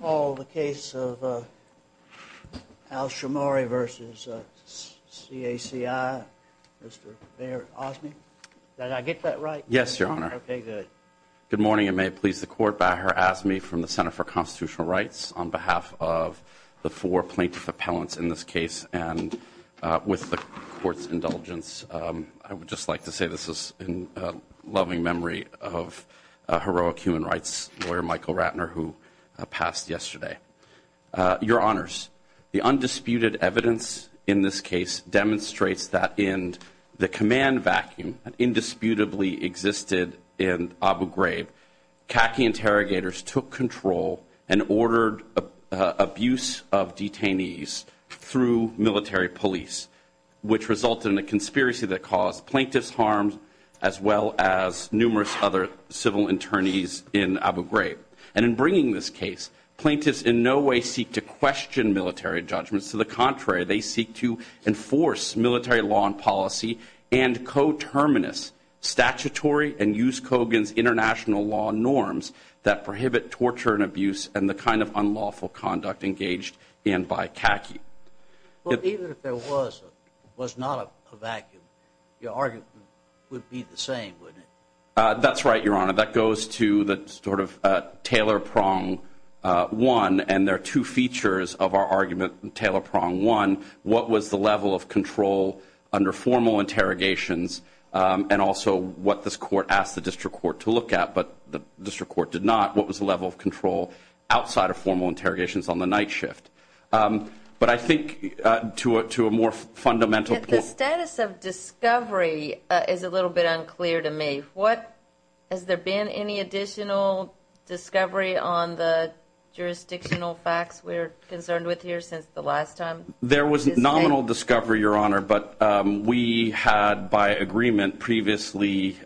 Paul, the case of Al Shimari v. CACI, Mr. Mayor Osmey. Did I get that right? Yes, Your Honor. Okay, good. Good morning, and may it please the Court, Baher Osmey from the Center for Constitutional Rights, on behalf of the four plaintiff appellants in this case, and with the Court's indulgence, I would just like to say this is in loving memory of heroic human rights lawyer, Michael Ratner, who passed yesterday. Your Honors, the undisputed evidence in this case demonstrates that in the command vacuum that indisputably existed in Abu Ghraib, CACI interrogators took control and ordered abuse of detainees through military police, which resulted in a conspiracy that caused plaintiff's harm, as well as numerous other civil attorneys in Abu Ghraib. And in bringing this case, plaintiffs in no way seek to question military judgments. To the contrary, they seek to enforce military law and policy and co-terminus statutory and use Kogan's international law norms that prohibit torture and abuse and the kind of unlawful conduct engaged in by CACI. Even if there was not a vacuum, your argument would be the same, wouldn't it? That's right, Your Honor. That goes to the sort of Taylor prong one, and there are two features of our argument in Taylor prong one. What was the level of control under formal interrogations and also what this court asked the district court to look at, but the district court did not. What was the level of control outside of formal interrogations on the night shift? But I think to a more fundamental point. The status of discovery is a little bit unclear to me. Has there been any additional discovery on the jurisdictional facts we're concerned with here since the last time? There was nominal discovery, Your Honor, but we had by agreement previously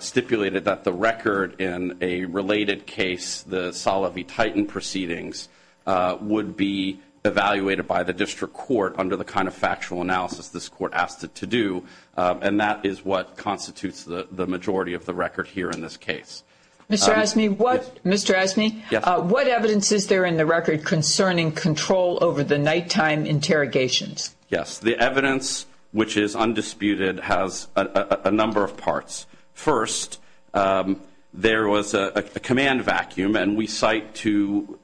stipulated that the record in a related case, the Salovey-Titan proceedings, would be evaluated by the district court under the kind of factual analysis this court asked it to do, and that is what constitutes the majority of the record here in this case. Mr. Asmey, what evidence is there in the record concerning control over the nighttime interrogations? Yes. The evidence, which is undisputed, has a number of parts. First, there was a command vacuum, and we cite to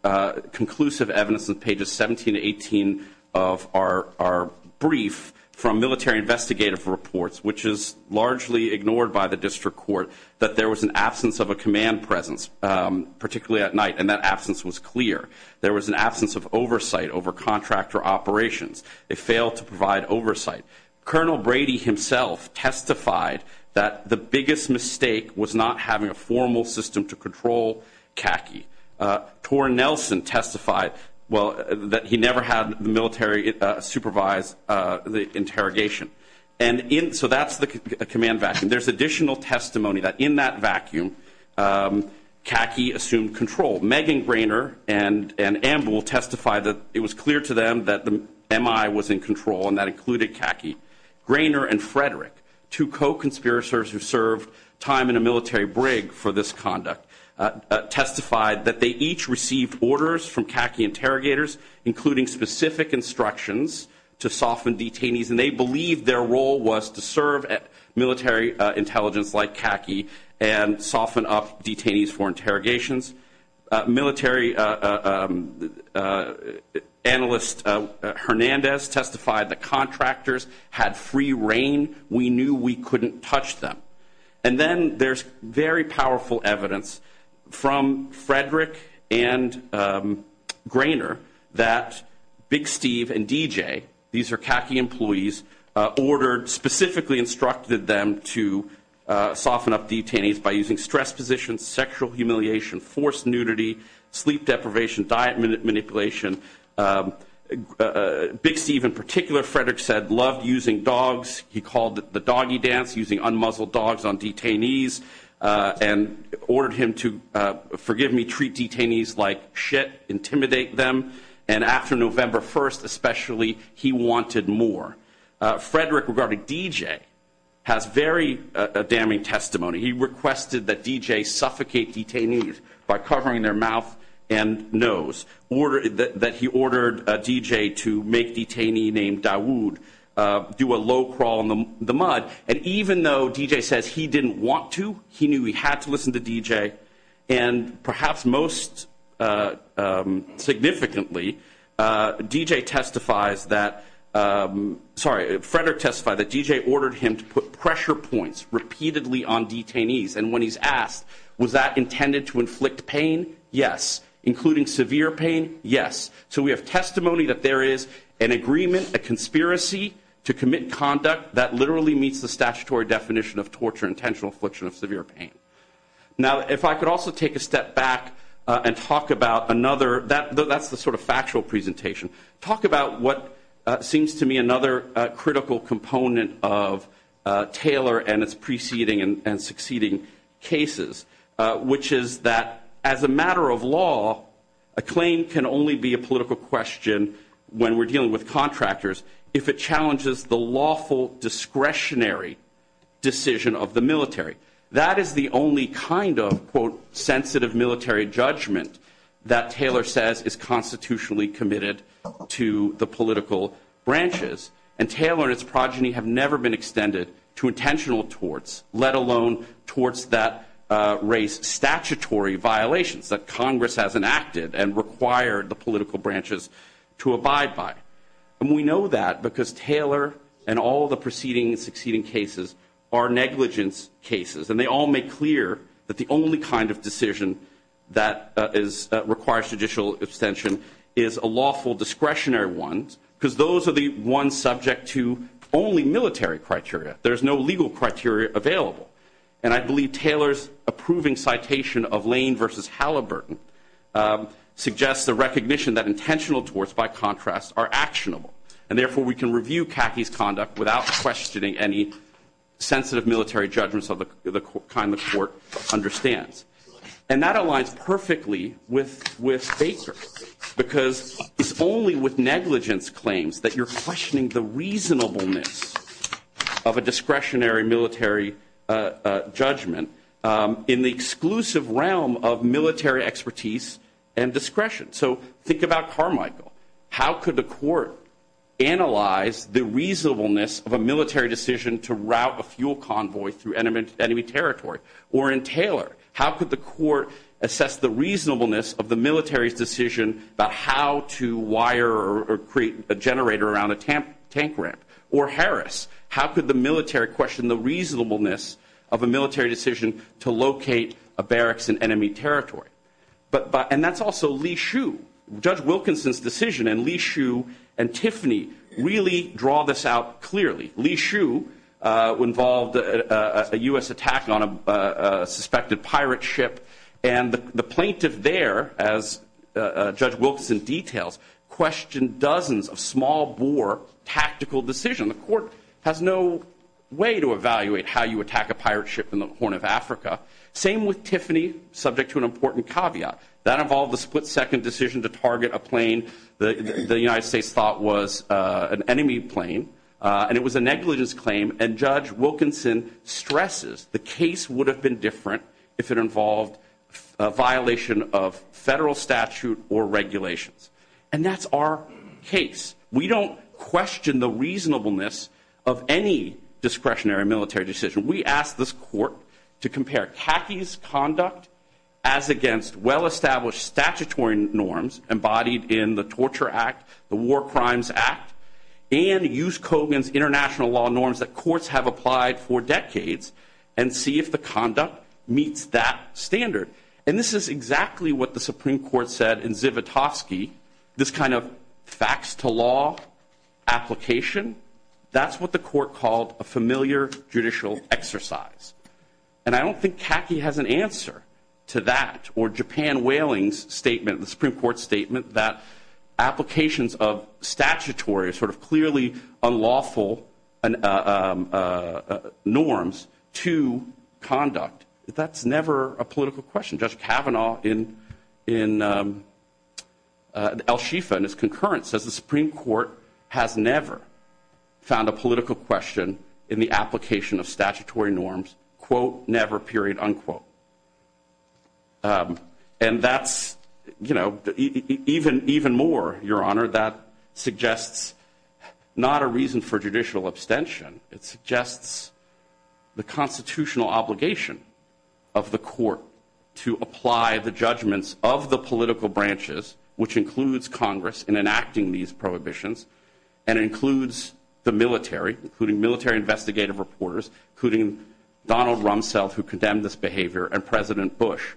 conclusive evidence in pages 17 to 18 of our brief from military investigative reports, which is largely ignored by the district court, that there was an absence of a command presence, particularly at night, and that absence was clear. There was an absence of oversight over contractor operations. They failed to provide oversight. Colonel Brady himself testified that the biggest mistake was not having a formal system to control Kaki. Tor Nelson testified that he never had the military supervise the interrogation. So that's the command vacuum. There's additional testimony that in that vacuum, Kaki assumed control. Megan Greiner and Amber will testify that it was clear to them that the MI was in control, and that included Kaki. Greiner and Frederick, two co-conspirators who served time in a military brig for this conduct, testified that they each received orders from Kaki interrogators, including specific instructions to soften detainees, and they believed their role was to serve at military intelligence like Kaki and soften up detainees for interrogations. Military analyst Hernandez testified that contractors had free reign. We knew we couldn't touch them. And then there's very powerful evidence from Frederick and Greiner that Big Steve and DJ, these are Kaki employees, ordered, specifically instructed them to soften up detainees by using stress positions, sexual humiliation, forced nudity, sleep deprivation, diet manipulation. Big Steve in particular, Frederick said, loved using dogs. He called it the doggie dance, using unmuzzled dogs on detainees, and ordered him to, forgive me, treat detainees like shit, intimidate them. And after November 1st especially, he wanted more. Frederick, regarding DJ, has very damning testimony. He requested that DJ suffocate detainees by covering their mouth and nose, that he ordered DJ to make detainee named Dawoud do a low crawl in the mud. And even though DJ says he didn't want to, he knew he had to listen to DJ, and perhaps most significantly, DJ testifies that, sorry, Frederick testified that DJ ordered him to put pressure points repeatedly on detainees. And when he's asked, was that intended to inflict pain? Yes. Including severe pain? Yes. So we have testimony that there is an agreement, a conspiracy to commit conduct that literally meets the statutory definition of torture, intentional affliction of severe pain. Now, if I could also take a step back and talk about another, that's the sort of factual presentation, talk about what seems to me another critical component of Taylor and its preceding and succeeding cases, which is that as a matter of law, a claim can only be a political question when we're dealing with contractors if it challenges the lawful discretionary decision of the military. That is the only kind of, quote, sensitive military judgment that Taylor says is constitutionally committed to the political branches. And Taylor and its progeny have never been extended to intentional torts, let alone torts that raise statutory violations that Congress has enacted and required the political branches to abide by. And we know that because Taylor and all the preceding and succeeding cases are negligence cases, and they all make clear that the only kind of decision that requires judicial extension is a lawful discretionary one because those are the ones subject to only military criteria. There's no legal criteria available. And I believe Taylor's approving citation of Lane v. Halliburton suggests the recognition that And therefore, we can review Kaki's conduct without questioning any sensitive military judgments of the kind the court understands. And that aligns perfectly with Baker, because it's only with negligence claims that you're questioning the reasonableness of a discretionary military judgment in the exclusive realm of military expertise and discretion. So think about Carmichael. How could the court analyze the reasonableness of a military decision to route a fuel convoy through enemy territory? Or in Taylor, how could the court assess the reasonableness of the military's decision about how to wire or create a generator around a tank ramp? Or Harris, how could the military question the reasonableness of a military decision to locate a barracks in enemy territory? And that's also Lee Hsu. Judge Wilkinson's decision and Lee Hsu and Tiffany really draw this out clearly. Lee Hsu involved a U.S. attack on a suspected pirate ship, and the plaintiff there, as Judge Wilkinson details, questioned dozens of small-bore tactical decisions. The court has no way to evaluate how you attack a pirate ship in the Horn of Africa. Same with Tiffany, subject to an important caveat. That involved a split-second decision to target a plane the United States thought was an enemy plane, and it was a negligence claim, and Judge Wilkinson stresses the case would have been different if it involved a violation of federal statute or regulations. And that's our case. We don't question the reasonableness of any discretionary military decision. We ask this court to compare Kaki's conduct as against well-established statutory norms embodied in the Torture Act, the War Crimes Act, and Yuskogin's international law norms that courts have applied for decades and see if the conduct meets that standard. And this is exactly what the Supreme Court said in Zivotofsky, this kind of facts-to-law application. That's what the court called a familiar judicial exercise. And I don't think Kaki has an answer to that or Japan Whaling's statement, the Supreme Court's statement, that applications of statutory, sort of clearly unlawful norms to conduct. That's never a political question. Judge Kavanaugh in El Shifa in his concurrence says the Supreme Court has never found a political question in the application of statutory norms, quote, never, period, unquote. And that's, you know, even more, Your Honor, that suggests not a reason for judicial abstention. It suggests the constitutional obligation of the court to apply the judgments of the political branches, which includes Congress in enacting these prohibitions, and includes the military, including military investigative reporters, including Donald Rumsfeld, who condemned this behavior, and President Bush,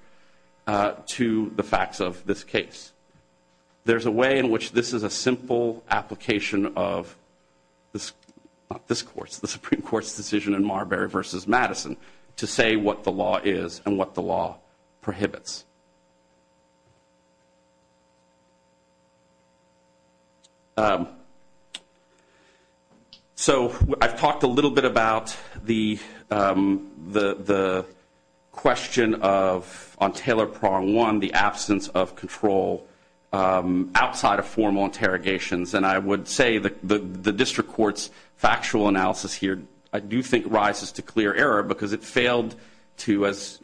to the facts of this case. There's a way in which this is a simple application of the Supreme Court's decision in Marbury v. Madison to say what the law is and what the law prohibits. So I've talked a little bit about the question of, on Taylor Prong one, the absence of control outside of formal interrogations. And I would say that the district court's factual analysis here I do think rises to clear error because it failed to, as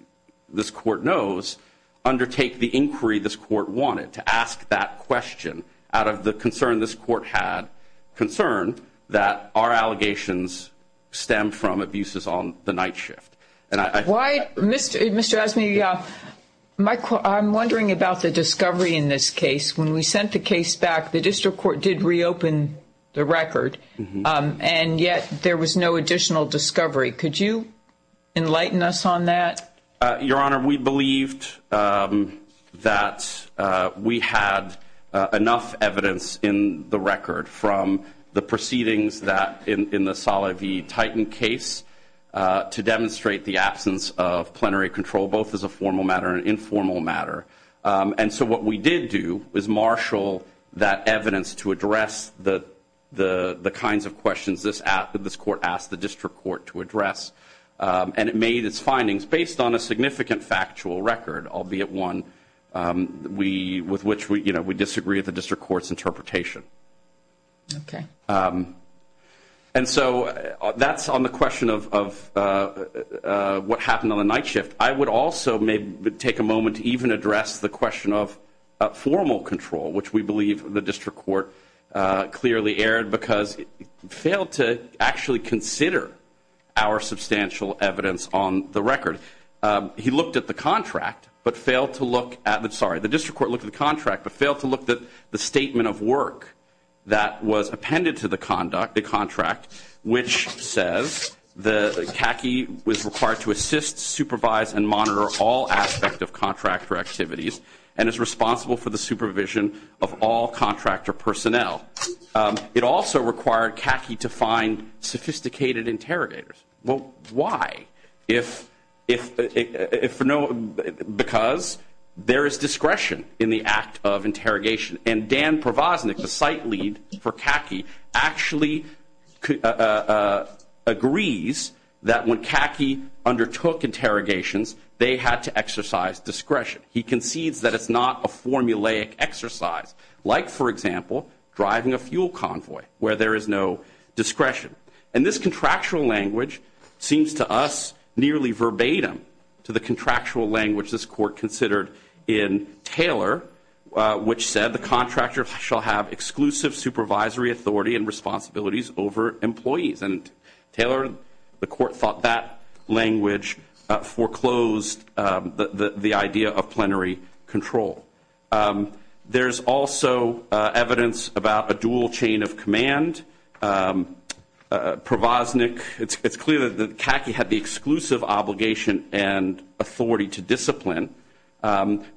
this court knows, undertake the inquiry this court wanted, to ask that question out of the concern this court had, concern that our allegations stem from abuses on the night shift. Why, Mr. Esme, I'm wondering about the discovery in this case. When we sent the case back, the district court did reopen the record, and yet there was no additional discovery. Could you enlighten us on that? Your Honor, we believed that we had enough evidence in the record from the proceedings in the Saleh v. Titan case to demonstrate the absence of plenary control, both as a formal matter and an informal matter. And so what we did do was marshal that evidence to address the kinds of questions this court asked the district court to address. And it made its findings based on a significant factual record, albeit one with which we disagree with the district court's interpretation. Okay. And so that's on the question of what happened on the night shift. I would also maybe take a moment to even address the question of formal control, which we believe the district court clearly erred because it failed to actually consider our substantial evidence on the record. He looked at the contract, but failed to look at the ‑‑ sorry, the district court looked at the contract, but failed to look at the statement of work that was appended to the contract, which says that CACI was required to assist, supervise, and monitor all aspect of contractor activities and is responsible for the supervision of all contractor personnel. It also required CACI to find sophisticated interrogators. Well, why? If no ‑‑ because there is discretion in the act of interrogation. And Dan Provosnik, the site lead for CACI, actually agrees that when CACI undertook interrogations, they had to exercise discretion. He concedes that it's not a formulaic exercise, like, for example, driving a fuel convoy where there is no discretion. And this contractual language seems to us nearly verbatim to the contractual language this court considered in Taylor, which said the contractor shall have exclusive supervisory authority and responsibilities over employees. And, Taylor, the court thought that language foreclosed the idea of plenary control. There's also evidence about a dual chain of command. Provosnik, it's clear that CACI had the exclusive obligation and authority to discipline,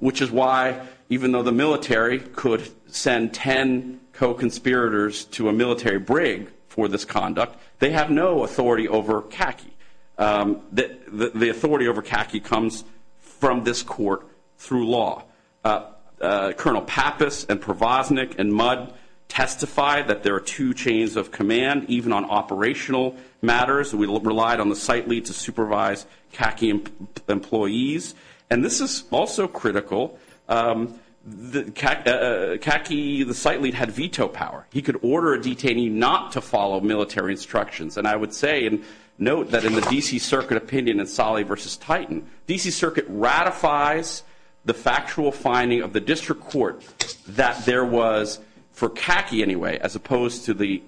which is why, even though the military could send 10 co‑conspirators to a military brig for this conduct, they have no authority over CACI. The authority over CACI comes from this court through law. Colonel Pappas and Provosnik and Mudd testified that there are two chains of command, even on operational matters. We relied on the site lead to supervise CACI employees. And this is also critical. CACI, the site lead, had veto power. He could order a detainee not to follow military instructions. And I would say and note that in the D.C. Circuit opinion in Salih v. Titan, D.C. Circuit ratifies the factual finding of the district court that there was, for CACI anyway, as opposed to the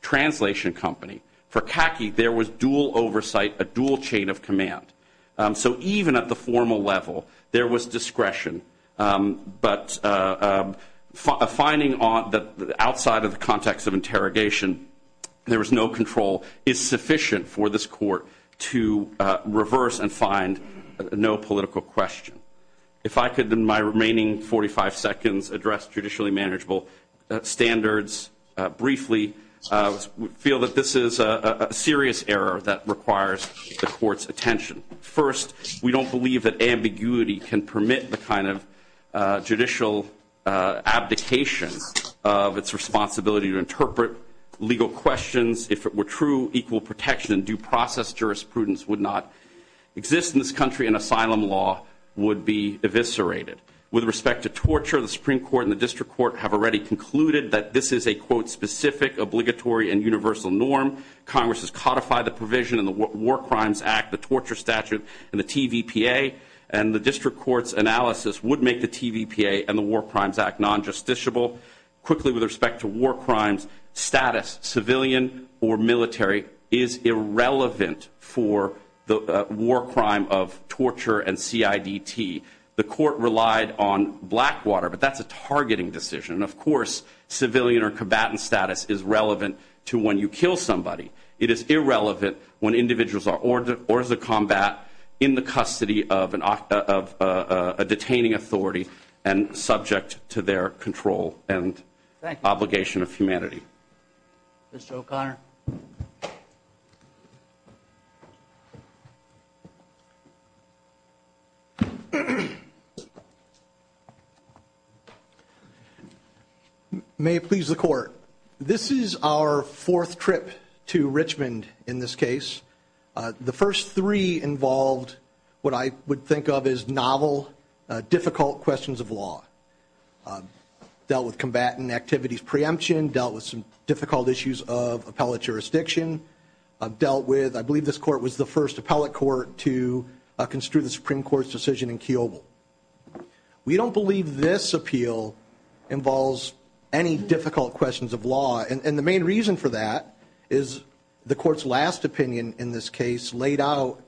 translation company, for CACI there was dual oversight, a dual chain of command. So even at the formal level, there was discretion. But a finding outside of the context of interrogation, there was no control, is sufficient for this court to reverse and find no political question. If I could in my remaining 45 seconds address judicially manageable standards briefly, we feel that this is a serious error that requires the court's attention. First, we don't believe that ambiguity can permit the kind of judicial abdication of its responsibility to interpret legal questions. If it were true, equal protection and due process jurisprudence would not exist in this country, and asylum law would be eviscerated. With respect to torture, the Supreme Court and the district court have already concluded that this is a, quote, specific, obligatory, and universal norm. Congress has codified the provision in the War Crimes Act, the torture statute, and the TVPA, and the district court's analysis would make the TVPA and the War Crimes Act non-justiciable. Quickly, with respect to war crimes, status, civilian or military, is irrelevant for the war crime of torture and CIDT. The court relied on Blackwater, but that's a targeting decision. Of course, civilian or combatant status is relevant to when you kill somebody. It is irrelevant when individuals are ordered or as a combat in the custody of a detaining authority and subject to their control and obligation of humanity. Mr. O'Connor. May it please the court. This is our fourth trip to Richmond in this case. The first three involved what I would think of as novel, difficult questions of law. Dealt with combatant activities preemption. Dealt with some difficult issues of appellate jurisdiction. Dealt with, I believe this court was the first appellate court to construe the Supreme Court's decision in Keoghle. We don't believe this appeal involves any difficult questions of law, and the main reason for that is the court's last opinion in this case laid out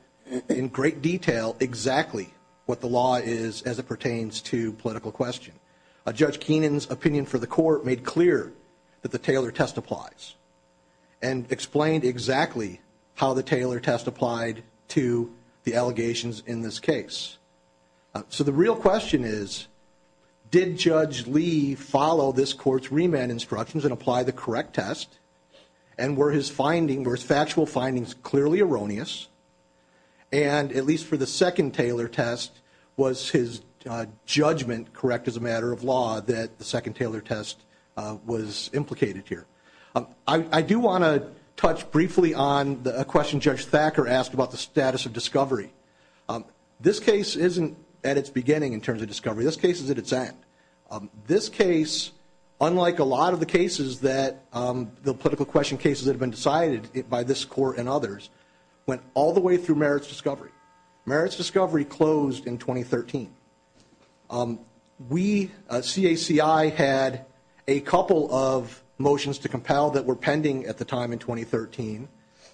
in great detail exactly what the law is as it pertains to political question. Judge Keenan's opinion for the court made clear that the Taylor test applies and explained exactly how the Taylor test applied to the allegations in this case. So the real question is, did Judge Lee follow this court's remand instructions and apply the correct test, and were his factual findings clearly erroneous, and at least for the second Taylor test, was his judgment correct as a matter of law that the second Taylor test was implicated here? I do want to touch briefly on a question Judge Thacker asked about the status of discovery. This case isn't at its beginning in terms of discovery. This case is at its end. This case, unlike a lot of the cases that the political question cases that have been decided by this court and others, went all the way through merits discovery. Merits discovery closed in 2013. We, CACI, had a couple of motions to compel that were pending at the time in 2013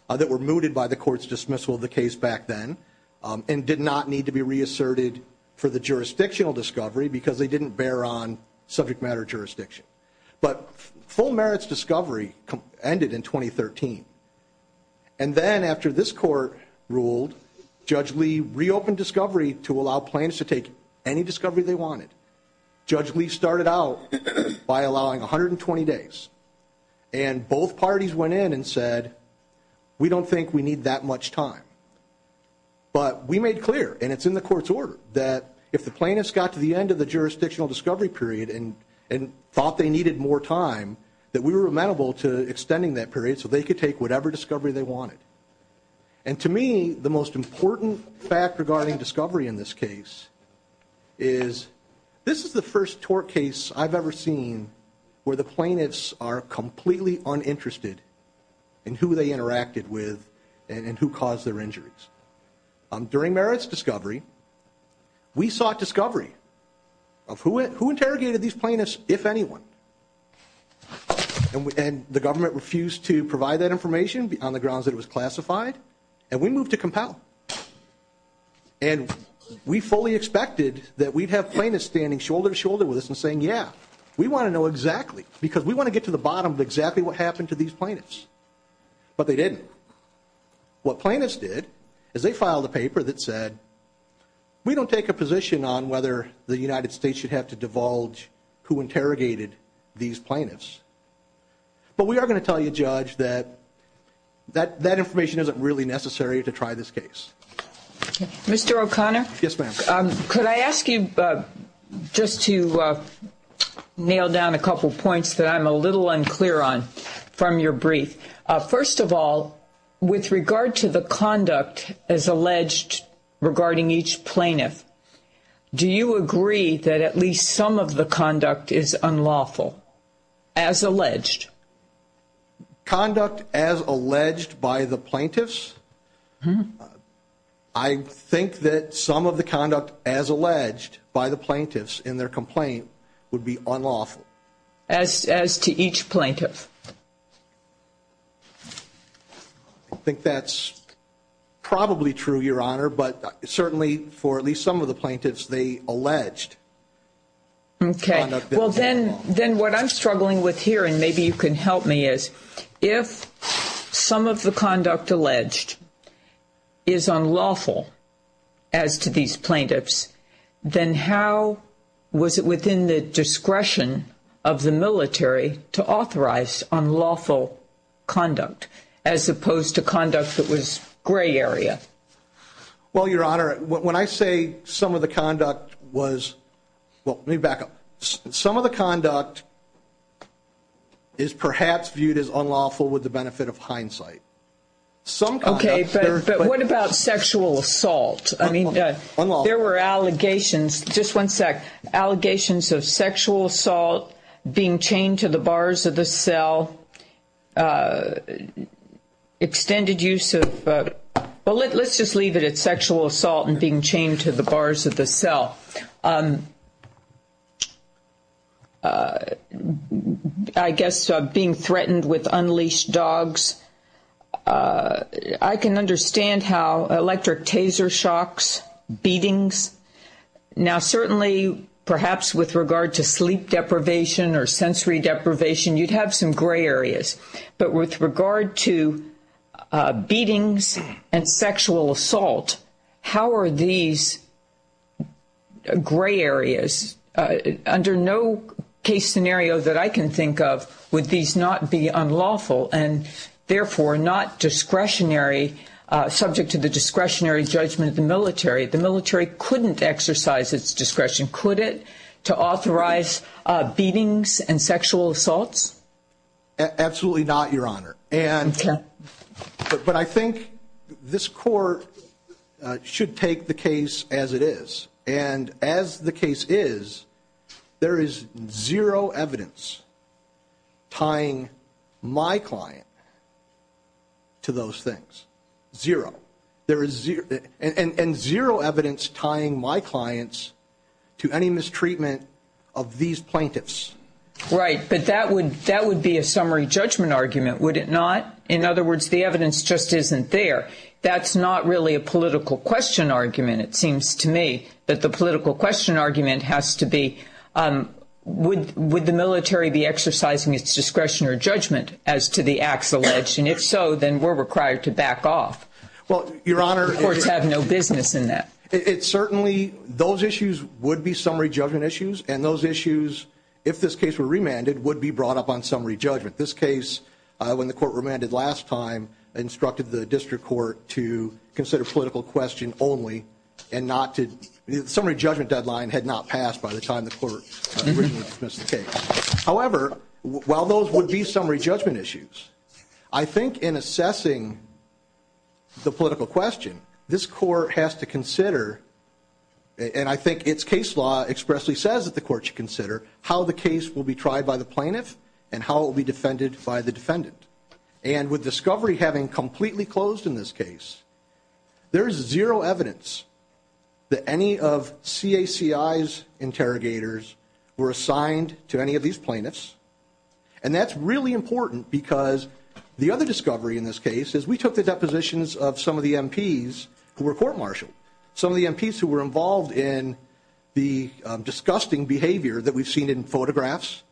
that were mooted by the court's dismissal of the case back then and did not need to be reasserted for the jurisdictional discovery because they didn't bear on subject matter jurisdiction. But full merits discovery ended in 2013. And then after this court ruled, Judge Lee reopened discovery to allow plaintiffs to take any discovery they wanted. Judge Lee started out by allowing 120 days, and both parties went in and said, we don't think we need that much time. But we made clear, and it's in the court's order, that if the plaintiffs got to the end of the jurisdictional discovery period and thought they needed more time, that we were amenable to extending that period so they could take whatever discovery they wanted. And to me, the most important fact regarding discovery in this case is, this is the first tort case I've ever seen where the plaintiffs are completely uninterested in who they interacted with and who caused their injuries. During merits discovery, we sought discovery of who interrogated these plaintiffs, if anyone. And the government refused to provide that information on the grounds that it was classified, and we moved to compel. And we fully expected that we'd have plaintiffs standing shoulder to shoulder with us and saying, yeah, we want to know exactly, because we want to get to the bottom of exactly what happened to these plaintiffs. But they didn't. What plaintiffs did is they filed a paper that said, we don't take a position on whether the United States should have to divulge who interrogated these plaintiffs. But we are going to tell you, Judge, that that information isn't really necessary to try this case. Mr. O'Connor? Yes, ma'am. Could I ask you just to nail down a couple points that I'm a little unclear on from your brief? First of all, with regard to the conduct as alleged regarding each plaintiff, do you agree that at least some of the conduct is unlawful, as alleged? Conduct as alleged by the plaintiffs? I think that some of the conduct as alleged by the plaintiffs in their complaint would be unlawful. As to each plaintiff. I think that's probably true, Your Honor, but certainly for at least some of the plaintiffs they alleged. Okay. Well, then what I'm struggling with here, and maybe you can help me, is if some of the conduct alleged is unlawful as to these plaintiffs, then how was it within the discretion of the military to authorize unlawful conduct, as opposed to conduct that was gray area? Well, Your Honor, when I say some of the conduct was, well, let me back up. Some of the conduct is perhaps viewed as unlawful with the benefit of hindsight. Okay, but what about sexual assault? I mean, there were allegations. Just one sec. Allegations of sexual assault, being chained to the bars of the cell, extended use of ‑‑ well, let's just leave it at sexual assault and being chained to the bars of the cell. I guess being threatened with unleashed dogs. I can understand how electric taser shocks, beatings. Now, certainly, perhaps with regard to sleep deprivation or sensory deprivation, you'd have some gray areas. But with regard to beatings and sexual assault, how are these gray areas? Under no case scenario that I can think of would these not be unlawful. And, therefore, not discretionary, subject to the discretionary judgment of the military. The military couldn't exercise its discretion, could it, to authorize beatings and sexual assaults? Absolutely not, Your Honor. Okay. But I think this court should take the case as it is. And as the case is, there is zero evidence tying my client to those things. Zero. And zero evidence tying my clients to any mistreatment of these plaintiffs. Right. But that would be a summary judgment argument, would it not? In other words, the evidence just isn't there. That's not really a political question argument, it seems to me. But the political question argument has to be, would the military be exercising its discretion or judgment as to the acts alleged? And if so, then we're required to back off. Well, Your Honor. The courts have no business in that. It certainly, those issues would be summary judgment issues. And those issues, if this case were remanded, would be brought up on summary judgment. This case, when the court remanded last time, instructed the district court to consider political question only and not to, the summary judgment deadline had not passed by the time the court originally dismissed the case. However, while those would be summary judgment issues, I think in assessing the political question, this court has to consider, and I think its case law expressly says that the court should consider, how the case will be tried by the plaintiff and how it will be defended by the defendant. And with discovery having completely closed in this case, there is zero evidence that any of CACI's interrogators were assigned to any of these plaintiffs. And that's really important because the other discovery in this case is we took the depositions of some of the MPs who were court-martialed. Some of the MPs who were involved in the disgusting behavior that we've seen in photographs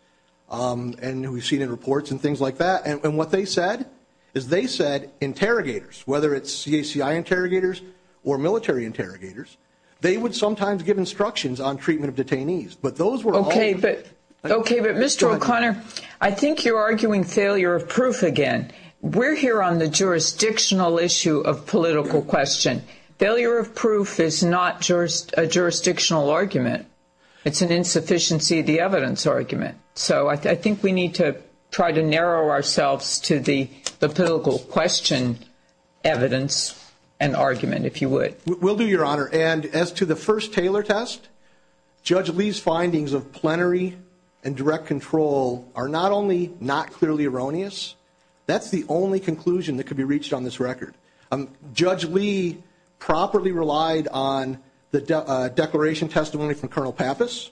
and we've seen in reports and things like that. And what they said is they said interrogators, whether it's CACI interrogators or military interrogators, they would sometimes give instructions on treatment of detainees. But those were all- Okay, but Mr. O'Connor, I think you're arguing failure of proof again. We're here on the jurisdictional issue of political question. Failure of proof is not a jurisdictional argument. It's an insufficiency of the evidence argument. So I think we need to try to narrow ourselves to the political question evidence and argument, if you would. We'll do, Your Honor. And as to the first Taylor test, Judge Lee's findings of plenary and direct control are not only not clearly erroneous, that's the only conclusion that could be reached on this record. Judge Lee properly relied on the declaration testimony from Colonel Pappas.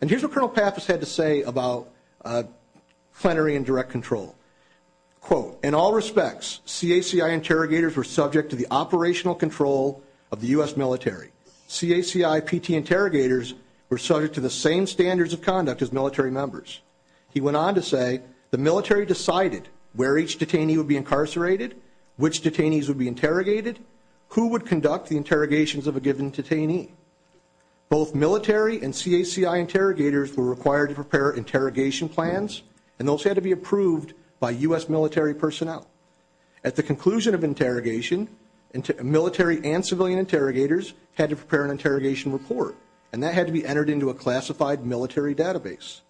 And here's what Colonel Pappas had to say about plenary and direct control. Quote, in all respects, CACI interrogators were subject to the operational control of the U.S. military. CACI PT interrogators were subject to the same standards of conduct as military members. He went on to say the military decided where each detainee would be incarcerated, which detainees would be interrogated, who would conduct the interrogations of a given detainee. Both military and CACI interrogators were required to prepare interrogation plans, and those had to be approved by U.S. military personnel. At the conclusion of interrogation, military and civilian interrogators had to prepare an interrogation report, and that had to be entered into a classified military database.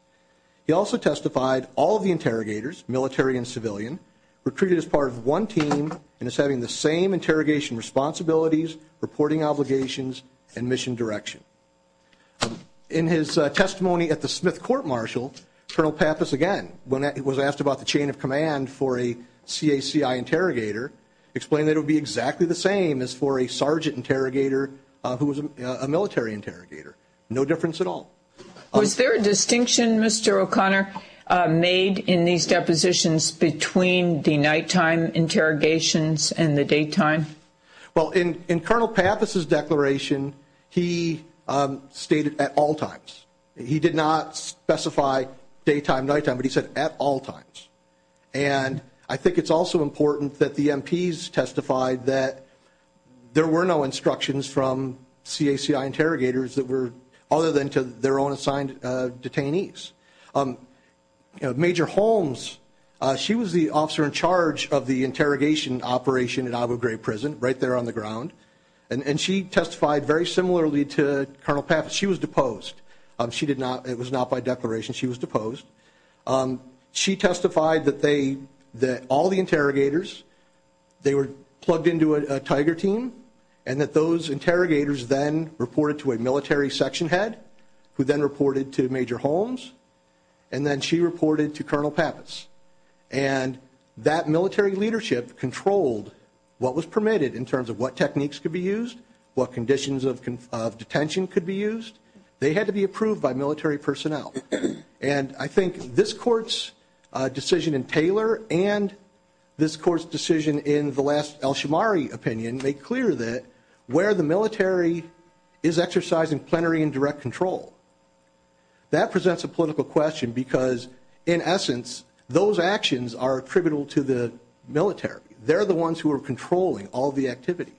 He also testified all of the interrogators, military and civilian, were treated as part of one team and as having the same interrogation responsibilities, reporting obligations, and mission direction. In his testimony at the Smith Court-Marshall, Colonel Pappas, again, when asked about the chain of command for a CACI interrogator, explained that it would be exactly the same as for a sergeant interrogator who was a military interrogator. No difference at all. Was there a distinction, Mr. O'Connor, made in these depositions between the nighttime interrogations and the daytime? Well, in Colonel Pappas' declaration, he stated at all times. He did not specify daytime, nighttime, but he said at all times. And I think it's also important that the MPs testified that there were no instructions from CACI interrogators that were other than to their own assigned detainees. Major Holmes, she was the officer in charge of the interrogation operation at Agua Gray Prison, right there on the ground, and she testified very similarly to Colonel Pappas. She was deposed. It was not by declaration. She was deposed. She testified that all the interrogators, they were plugged into a Tiger team and that those interrogators then reported to a military section head, who then reported to Major Holmes, and then she reported to Colonel Pappas. And that military leadership controlled what was permitted in terms of what techniques could be used, what conditions of detention could be used. They had to be approved by military personnel. And I think this Court's decision in Taylor and this Court's decision in the last Elshamari opinion made clear that where the military is exercising plenary and direct control, that presents a political question because, in essence, those actions are attributable to the military. They're the ones who are controlling all the activity.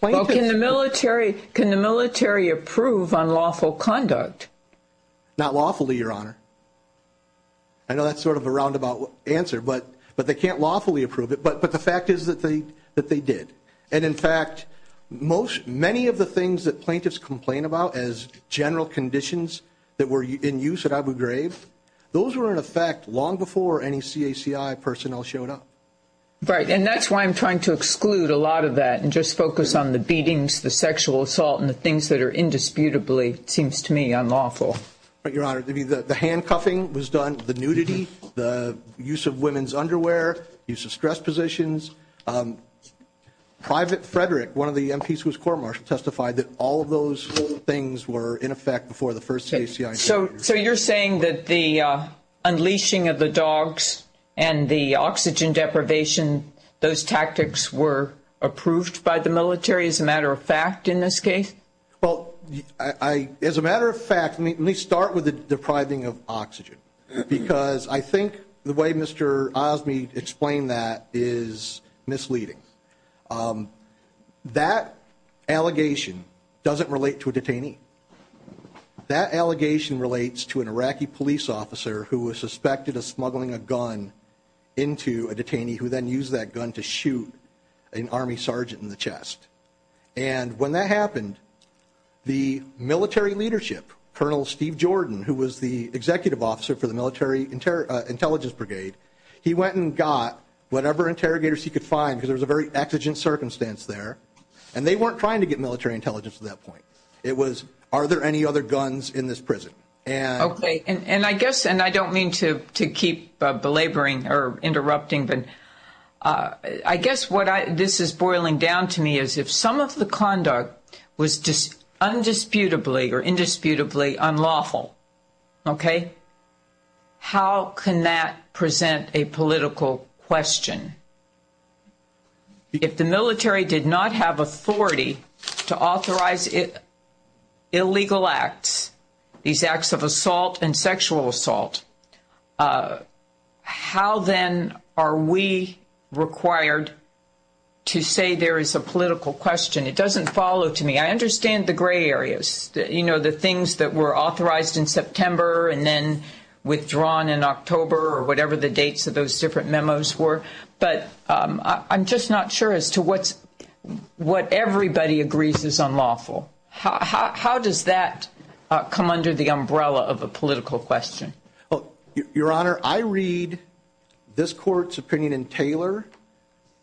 Well, can the military approve unlawful conduct? Not lawfully, Your Honor. I know that's sort of a roundabout answer, but they can't lawfully approve it. But the fact is that they did. And, in fact, many of the things that plaintiffs complain about as general conditions that were in use at Agua Gray, those were in effect long before any CACI personnel showed up. Right. And that's why I'm trying to exclude a lot of that and just focus on the beatings, the sexual assault, and the things that are indisputably, it seems to me, unlawful. But, Your Honor, the handcuffing was done, the nudity, the use of women's underwear, use of stress positions. Private Frederick, one of the MPs who was court-martialed, testified that all of those things were in effect before the first CACI. So you're saying that the unleashing of the dogs and the oxygen deprivation, those tactics were approved by the military as a matter of fact in this case? Well, as a matter of fact, let me start with the depriving of oxygen because I think the way Mr. Osme explain that is misleading. That allegation doesn't relate to a detainee. That allegation relates to an Iraqi police officer who was suspected of smuggling a gun into a detainee who then used that gun to shoot an Army sergeant in the chest. And when that happened, the military leadership, Colonel Steve Jordan, who was the executive officer for the military intelligence brigade, he went and got whatever interrogators he could find because there was a very exigent circumstance there, and they weren't trying to get military intelligence at that point. It was, are there any other guns in this prison? Okay. And I guess, and I don't mean to keep belaboring or interrupting, but I guess what this is boiling down to me is if some of the conduct was undisputably or indisputably unlawful, okay, how can that present a political question? If the military did not have authority to authorize illegal acts, these acts of assault and sexual assault, how then are we required to say there is a political question? It doesn't follow to me. I understand the gray areas, you know, the things that were authorized in September and then withdrawn in October or whatever the dates of those different memos were, but I'm just not sure as to what everybody agrees is unlawful. How does that come under the umbrella of a political question? Your Honor, I read this court's opinion in Taylor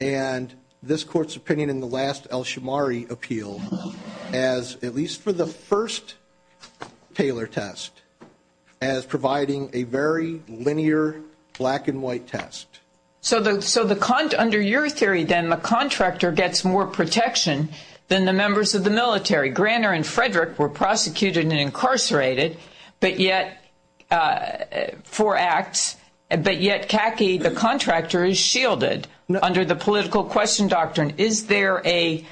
and this court's opinion in the last Elshamari appeal as, at least for the first Taylor test, as providing a very linear black and white test. So under your theory, then, the contractor gets more protection than the members of the military. Granner and Frederick were prosecuted and incarcerated for acts, but yet, khaki, the contractor is shielded under the political question doctrine. Is there a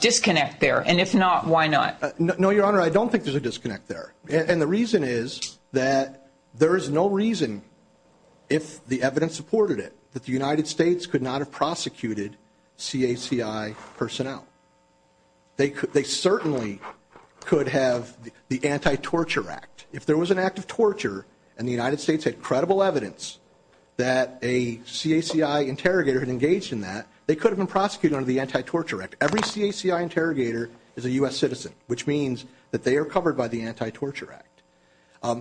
disconnect there? And if not, why not? No, Your Honor, I don't think there's a disconnect there. And the reason is that there is no reason, if the evidence supported it, that the United States could not have prosecuted CACI personnel. They certainly could have the Anti-Torture Act. If there was an act of torture and the United States had credible evidence that a CACI interrogator had engaged in that, they could have been prosecuted under the Anti-Torture Act. Every CACI interrogator is a U.S. citizen, which means that they are covered by the Anti-Torture Act.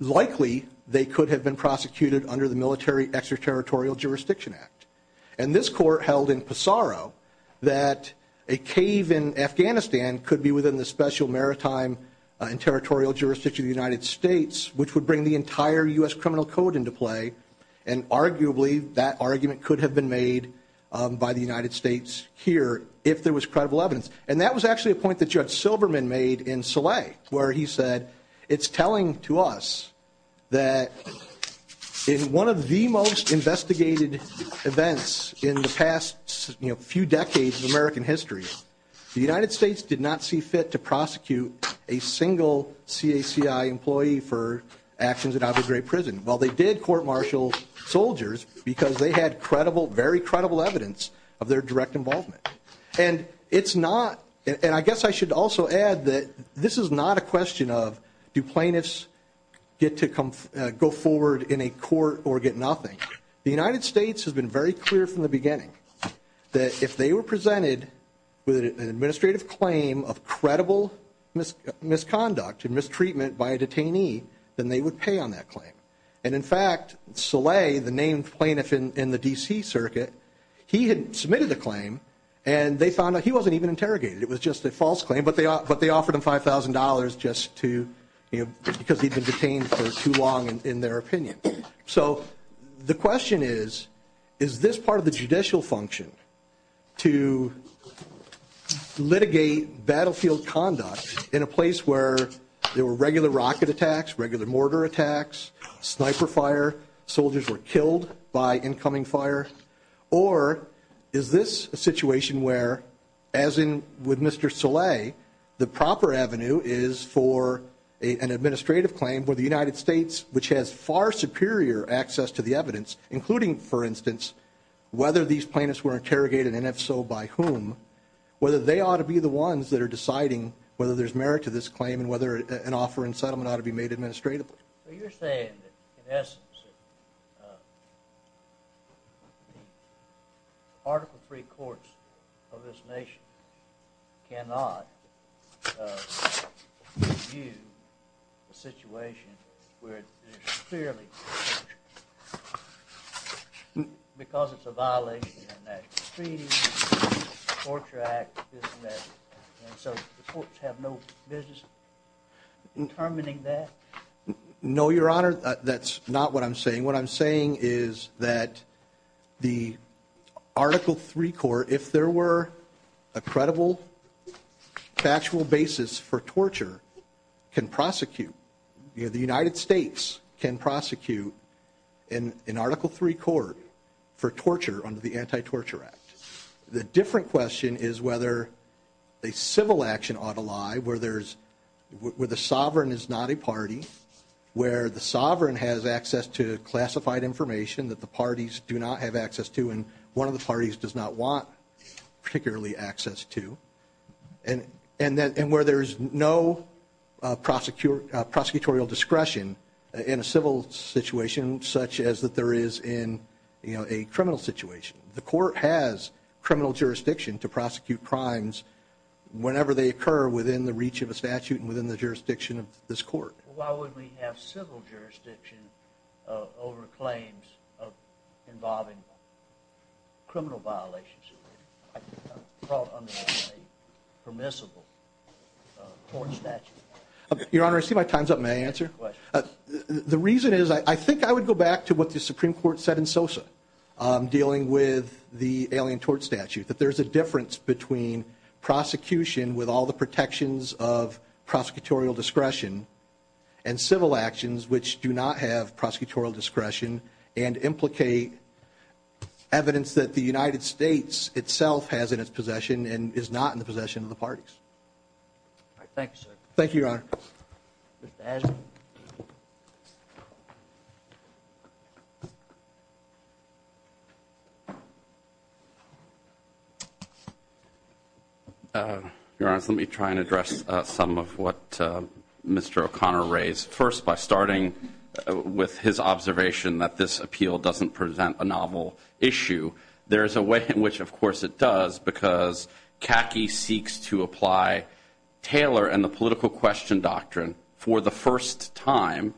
Likely, they could have been prosecuted under the Military Extraterritorial Jurisdiction Act. And this court held in Pesaro that a cave in Afghanistan could be within the special maritime and territorial jurisdiction of the United States, which would bring the entire U.S. criminal code into play, and arguably that argument could have been made by the United States here if there was credible evidence. And that was actually a point that Judge Silverman made in Soleil, where he said, it's telling to us that in one of the most investigated events in the past few decades of American history, the United States did not see fit to prosecute a single CACI employee for actions at Abu Ghraib Prison. Well, they did court-martial soldiers because they had very credible evidence of their direct involvement. And I guess I should also add that this is not a question of do plaintiffs get to go forward in a court or get nothing. The United States has been very clear from the beginning that if they were presented with an administrative claim of credible misconduct and mistreatment by a detainee, then they would pay on that claim. And, in fact, Soleil, the named plaintiff in the D.C. circuit, he had submitted the claim, and they found out he wasn't even interrogated. It was just a false claim, but they offered him $5,000 just to, you know, because he'd been detained for too long in their opinion. So the question is, is this part of the judicial function to litigate battlefield conduct in a place where there were regular rocket attacks, regular mortar attacks, sniper fire, soldiers were killed by incoming fire? Or is this a situation where, as in with Mr. Soleil, the proper avenue is for an administrative claim where the United States, which has far superior access to the evidence, including, for instance, whether these plaintiffs were interrogated, and if so, by whom, whether they ought to be the ones that are deciding whether there's merit to this claim and whether an offer in settlement ought to be made administratively? So you're saying that, in essence, the Article III courts of this nation cannot review a situation where there's clearly torture because it's a violation of international treaties, the Torture Act, this and that. And so the courts have no business in terminating that? No, Your Honor, that's not what I'm saying. What I'm saying is that the Article III court, if there were a credible factual basis for torture, can prosecute. The United States can prosecute an Article III court for torture under the Anti-Torture Act. The different question is whether a civil action ought to lie where the sovereign is not a party, where the sovereign has access to classified information that the parties do not have access to and one of the parties does not want particularly access to, and where there is no prosecutorial discretion in a civil situation such as that there is in a criminal situation. The court has criminal jurisdiction to prosecute crimes whenever they occur within the reach of a statute and within the jurisdiction of this court. Why wouldn't we have civil jurisdiction over claims involving criminal violations brought under a permissible court statute? Your Honor, I see my time's up. May I answer? The reason is I think I would go back to what the Supreme Court said in Sosa dealing with the Alien Tort Statute, that there's a difference between prosecution with all the protections of prosecutorial discretion and civil actions which do not have prosecutorial discretion and implicate evidence that the United States itself has in its possession and is not in the possession of the parties. Thank you, sir. Thank you, Your Honor. Mr. Adler? Your Honor, let me try and address some of what Mr. O'Connor raised. First, by starting with his observation that this appeal doesn't present a novel issue, there is a way in which, of course, it does, because CACI seeks to apply Taylor and the political question doctrine for the first time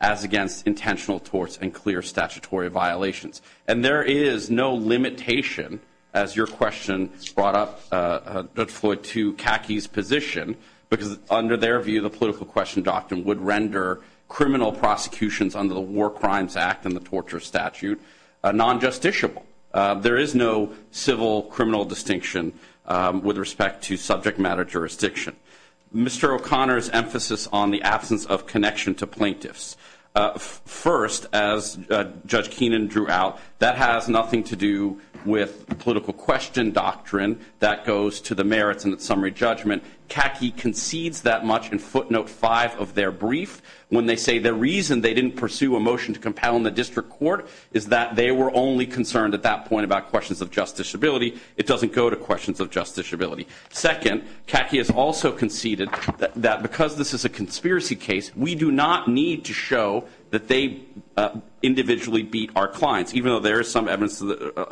as against intentional torts and clear statutory violations. And there is no limitation, as your question brought up, Judge Floyd, to CACI's position, because under their view the political question doctrine would render criminal prosecutions under the War Crimes Act and the Torture Statute non-justiciable. There is no civil criminal distinction with respect to subject matter jurisdiction. Mr. O'Connor's emphasis on the absence of connection to plaintiffs. First, as Judge Keenan drew out, that has nothing to do with the political question doctrine that goes to the merits and its summary judgment. CACI concedes that much in footnote five of their brief. When they say the reason they didn't pursue a motion to compel in the district court is that they were only concerned at that point about questions of justiciability, it doesn't go to questions of justiciability. Second, CACI has also conceded that because this is a conspiracy case, we do not need to show that they individually beat our clients, even though there is some evidence in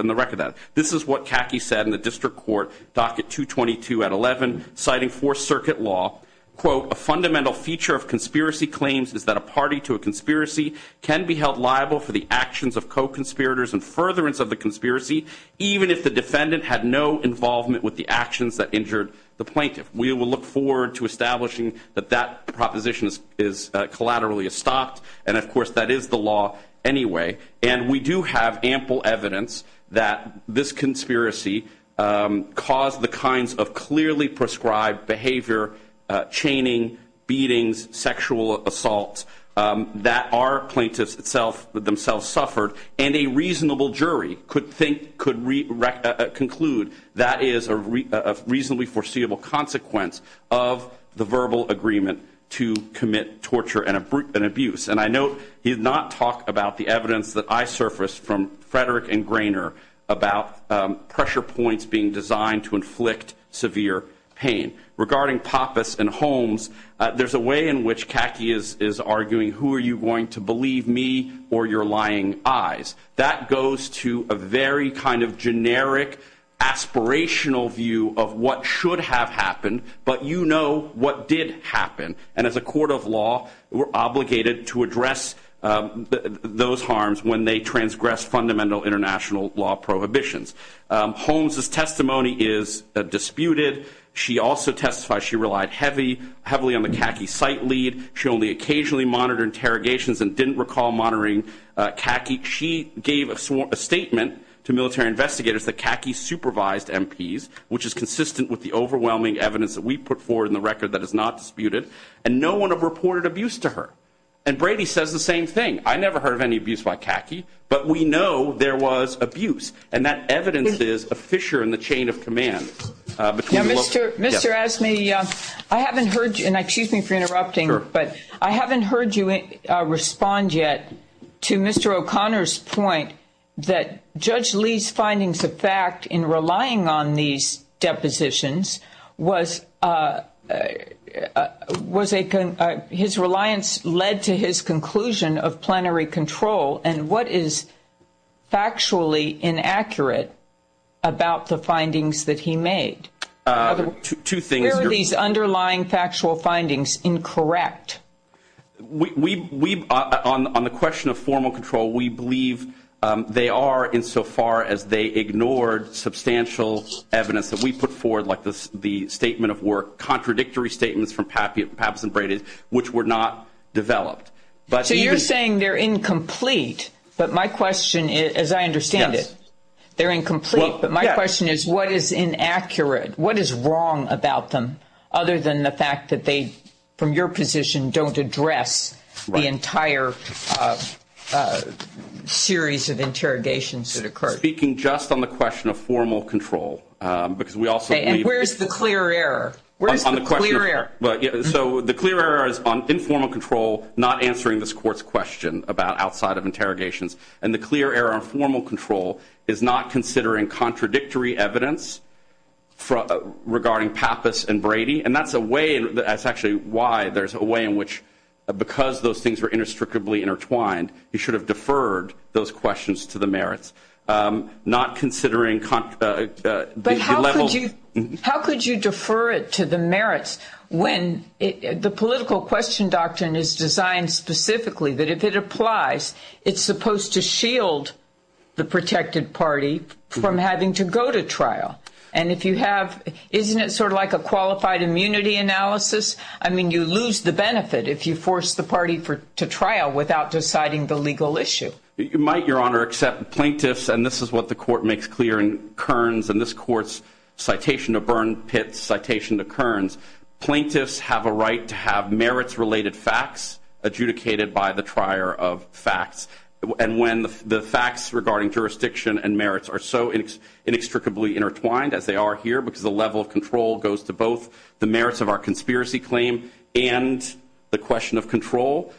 the record that this is what CACI said in the district court docket 222 at 11, citing Fourth Circuit law, quote, a fundamental feature of conspiracy claims is that a party to a conspiracy can be held liable for the actions of co-conspirators and furtherance of the conspiracy, even if the defendant had no involvement with the actions that injured the plaintiff. We will look forward to establishing that that proposition is collaterally estopped, and, of course, that is the law anyway. And we do have ample evidence that this conspiracy caused the kinds of clearly prescribed behavior, chaining, beatings, sexual assaults that our plaintiffs themselves suffered, and a reasonable jury could conclude that is a reasonably foreseeable consequence of the verbal agreement to commit torture and abuse. And I note he did not talk about the evidence that I surfaced from Frederick and Grainer about pressure points being designed to inflict severe pain. Regarding Pappas and Holmes, there's a way in which CACI is arguing, who are you going to believe, me or your lying eyes? That goes to a very kind of generic aspirational view of what should have happened, but you know what did happen, and as a court of law, we're obligated to address those harms when they transgress fundamental international law prohibitions. Holmes' testimony is disputed. She also testifies she relied heavily on the CACI site lead. She only occasionally monitored interrogations and didn't recall monitoring CACI. She gave a statement to military investigators that CACI supervised MPs, which is consistent with the overwhelming evidence that we put forward in the record that is not disputed, and no one reported abuse to her. And Brady says the same thing. I never heard of any abuse by CACI, but we know there was abuse, and that evidence is a fissure in the chain of command. Mr. Asney, I haven't heard you, and excuse me for interrupting, but I haven't heard you respond yet to Mr. O'Connor's point that Judge Lee's findings of fact in relying on these about the findings that he made. Two things. Where are these underlying factual findings incorrect? On the question of formal control, we believe they are insofar as they ignored substantial evidence that we put forward, like the statement of work, contradictory statements from Pappas and Brady, which were not developed. So you're saying they're incomplete, but my question, as I understand it, they're incomplete, but my question is what is inaccurate? What is wrong about them other than the fact that they, from your position, don't address the entire series of interrogations that occurred? Speaking just on the question of formal control, because we also believe the And where's the clear error? Where's the clear error? So the clear error is on informal control, not answering this Court's question about outside of interrogations, and the clear error on formal control is not considering contradictory evidence regarding Pappas and Brady, and that's actually why there's a way in which, because those things were inextricably intertwined, you should have deferred those questions to the merits, not considering the level How could you defer it to the merits when the political question doctrine is designed specifically that if it applies, it's supposed to shield the protected party from having to go to trial? And if you have, isn't it sort of like a qualified immunity analysis? I mean, you lose the benefit if you force the party to trial without deciding the legal issue. You might, Your Honor, accept plaintiffs, and this is what the Court makes clear in Kearns, and this Court's citation to Byrne, Pitts, citation to Kearns, plaintiffs have a right to have merits-related facts adjudicated by the trier of facts, and when the facts regarding jurisdiction and merits are so inextricably intertwined, as they are here, because the level of control goes to both the merits of our conspiracy claim and the question of control,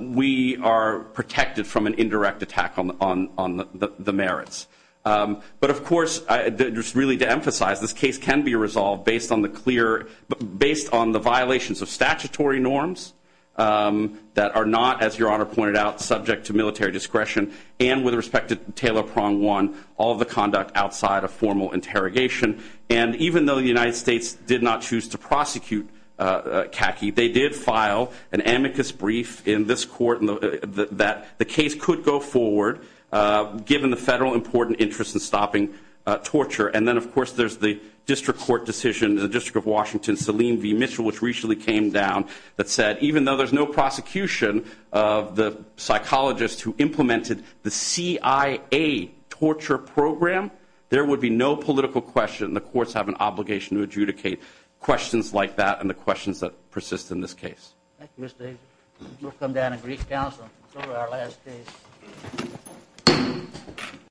we are protected from an indirect attack on the merits. But, of course, just really to emphasize, this case can be resolved based on the violations of statutory norms that are not, as Your Honor pointed out, subject to military discretion, and with respect to Taylor Prong One, all of the conduct outside of formal interrogation. And even though the United States did not choose to prosecute Kaki, they did file an amicus brief in this Court that the case could go forward, given the federal important interest in stopping torture. And then, of course, there's the district court decision, the District of Washington, Selene v. Mitchell, which recently came down, that said even though there's no prosecution of the psychologist who implemented the CIA torture program, there would be no political question. The courts have an obligation to adjudicate questions like that and the questions that persist in this case. Thank you, Mr. Asia. We'll come down and brief counsel over our last case.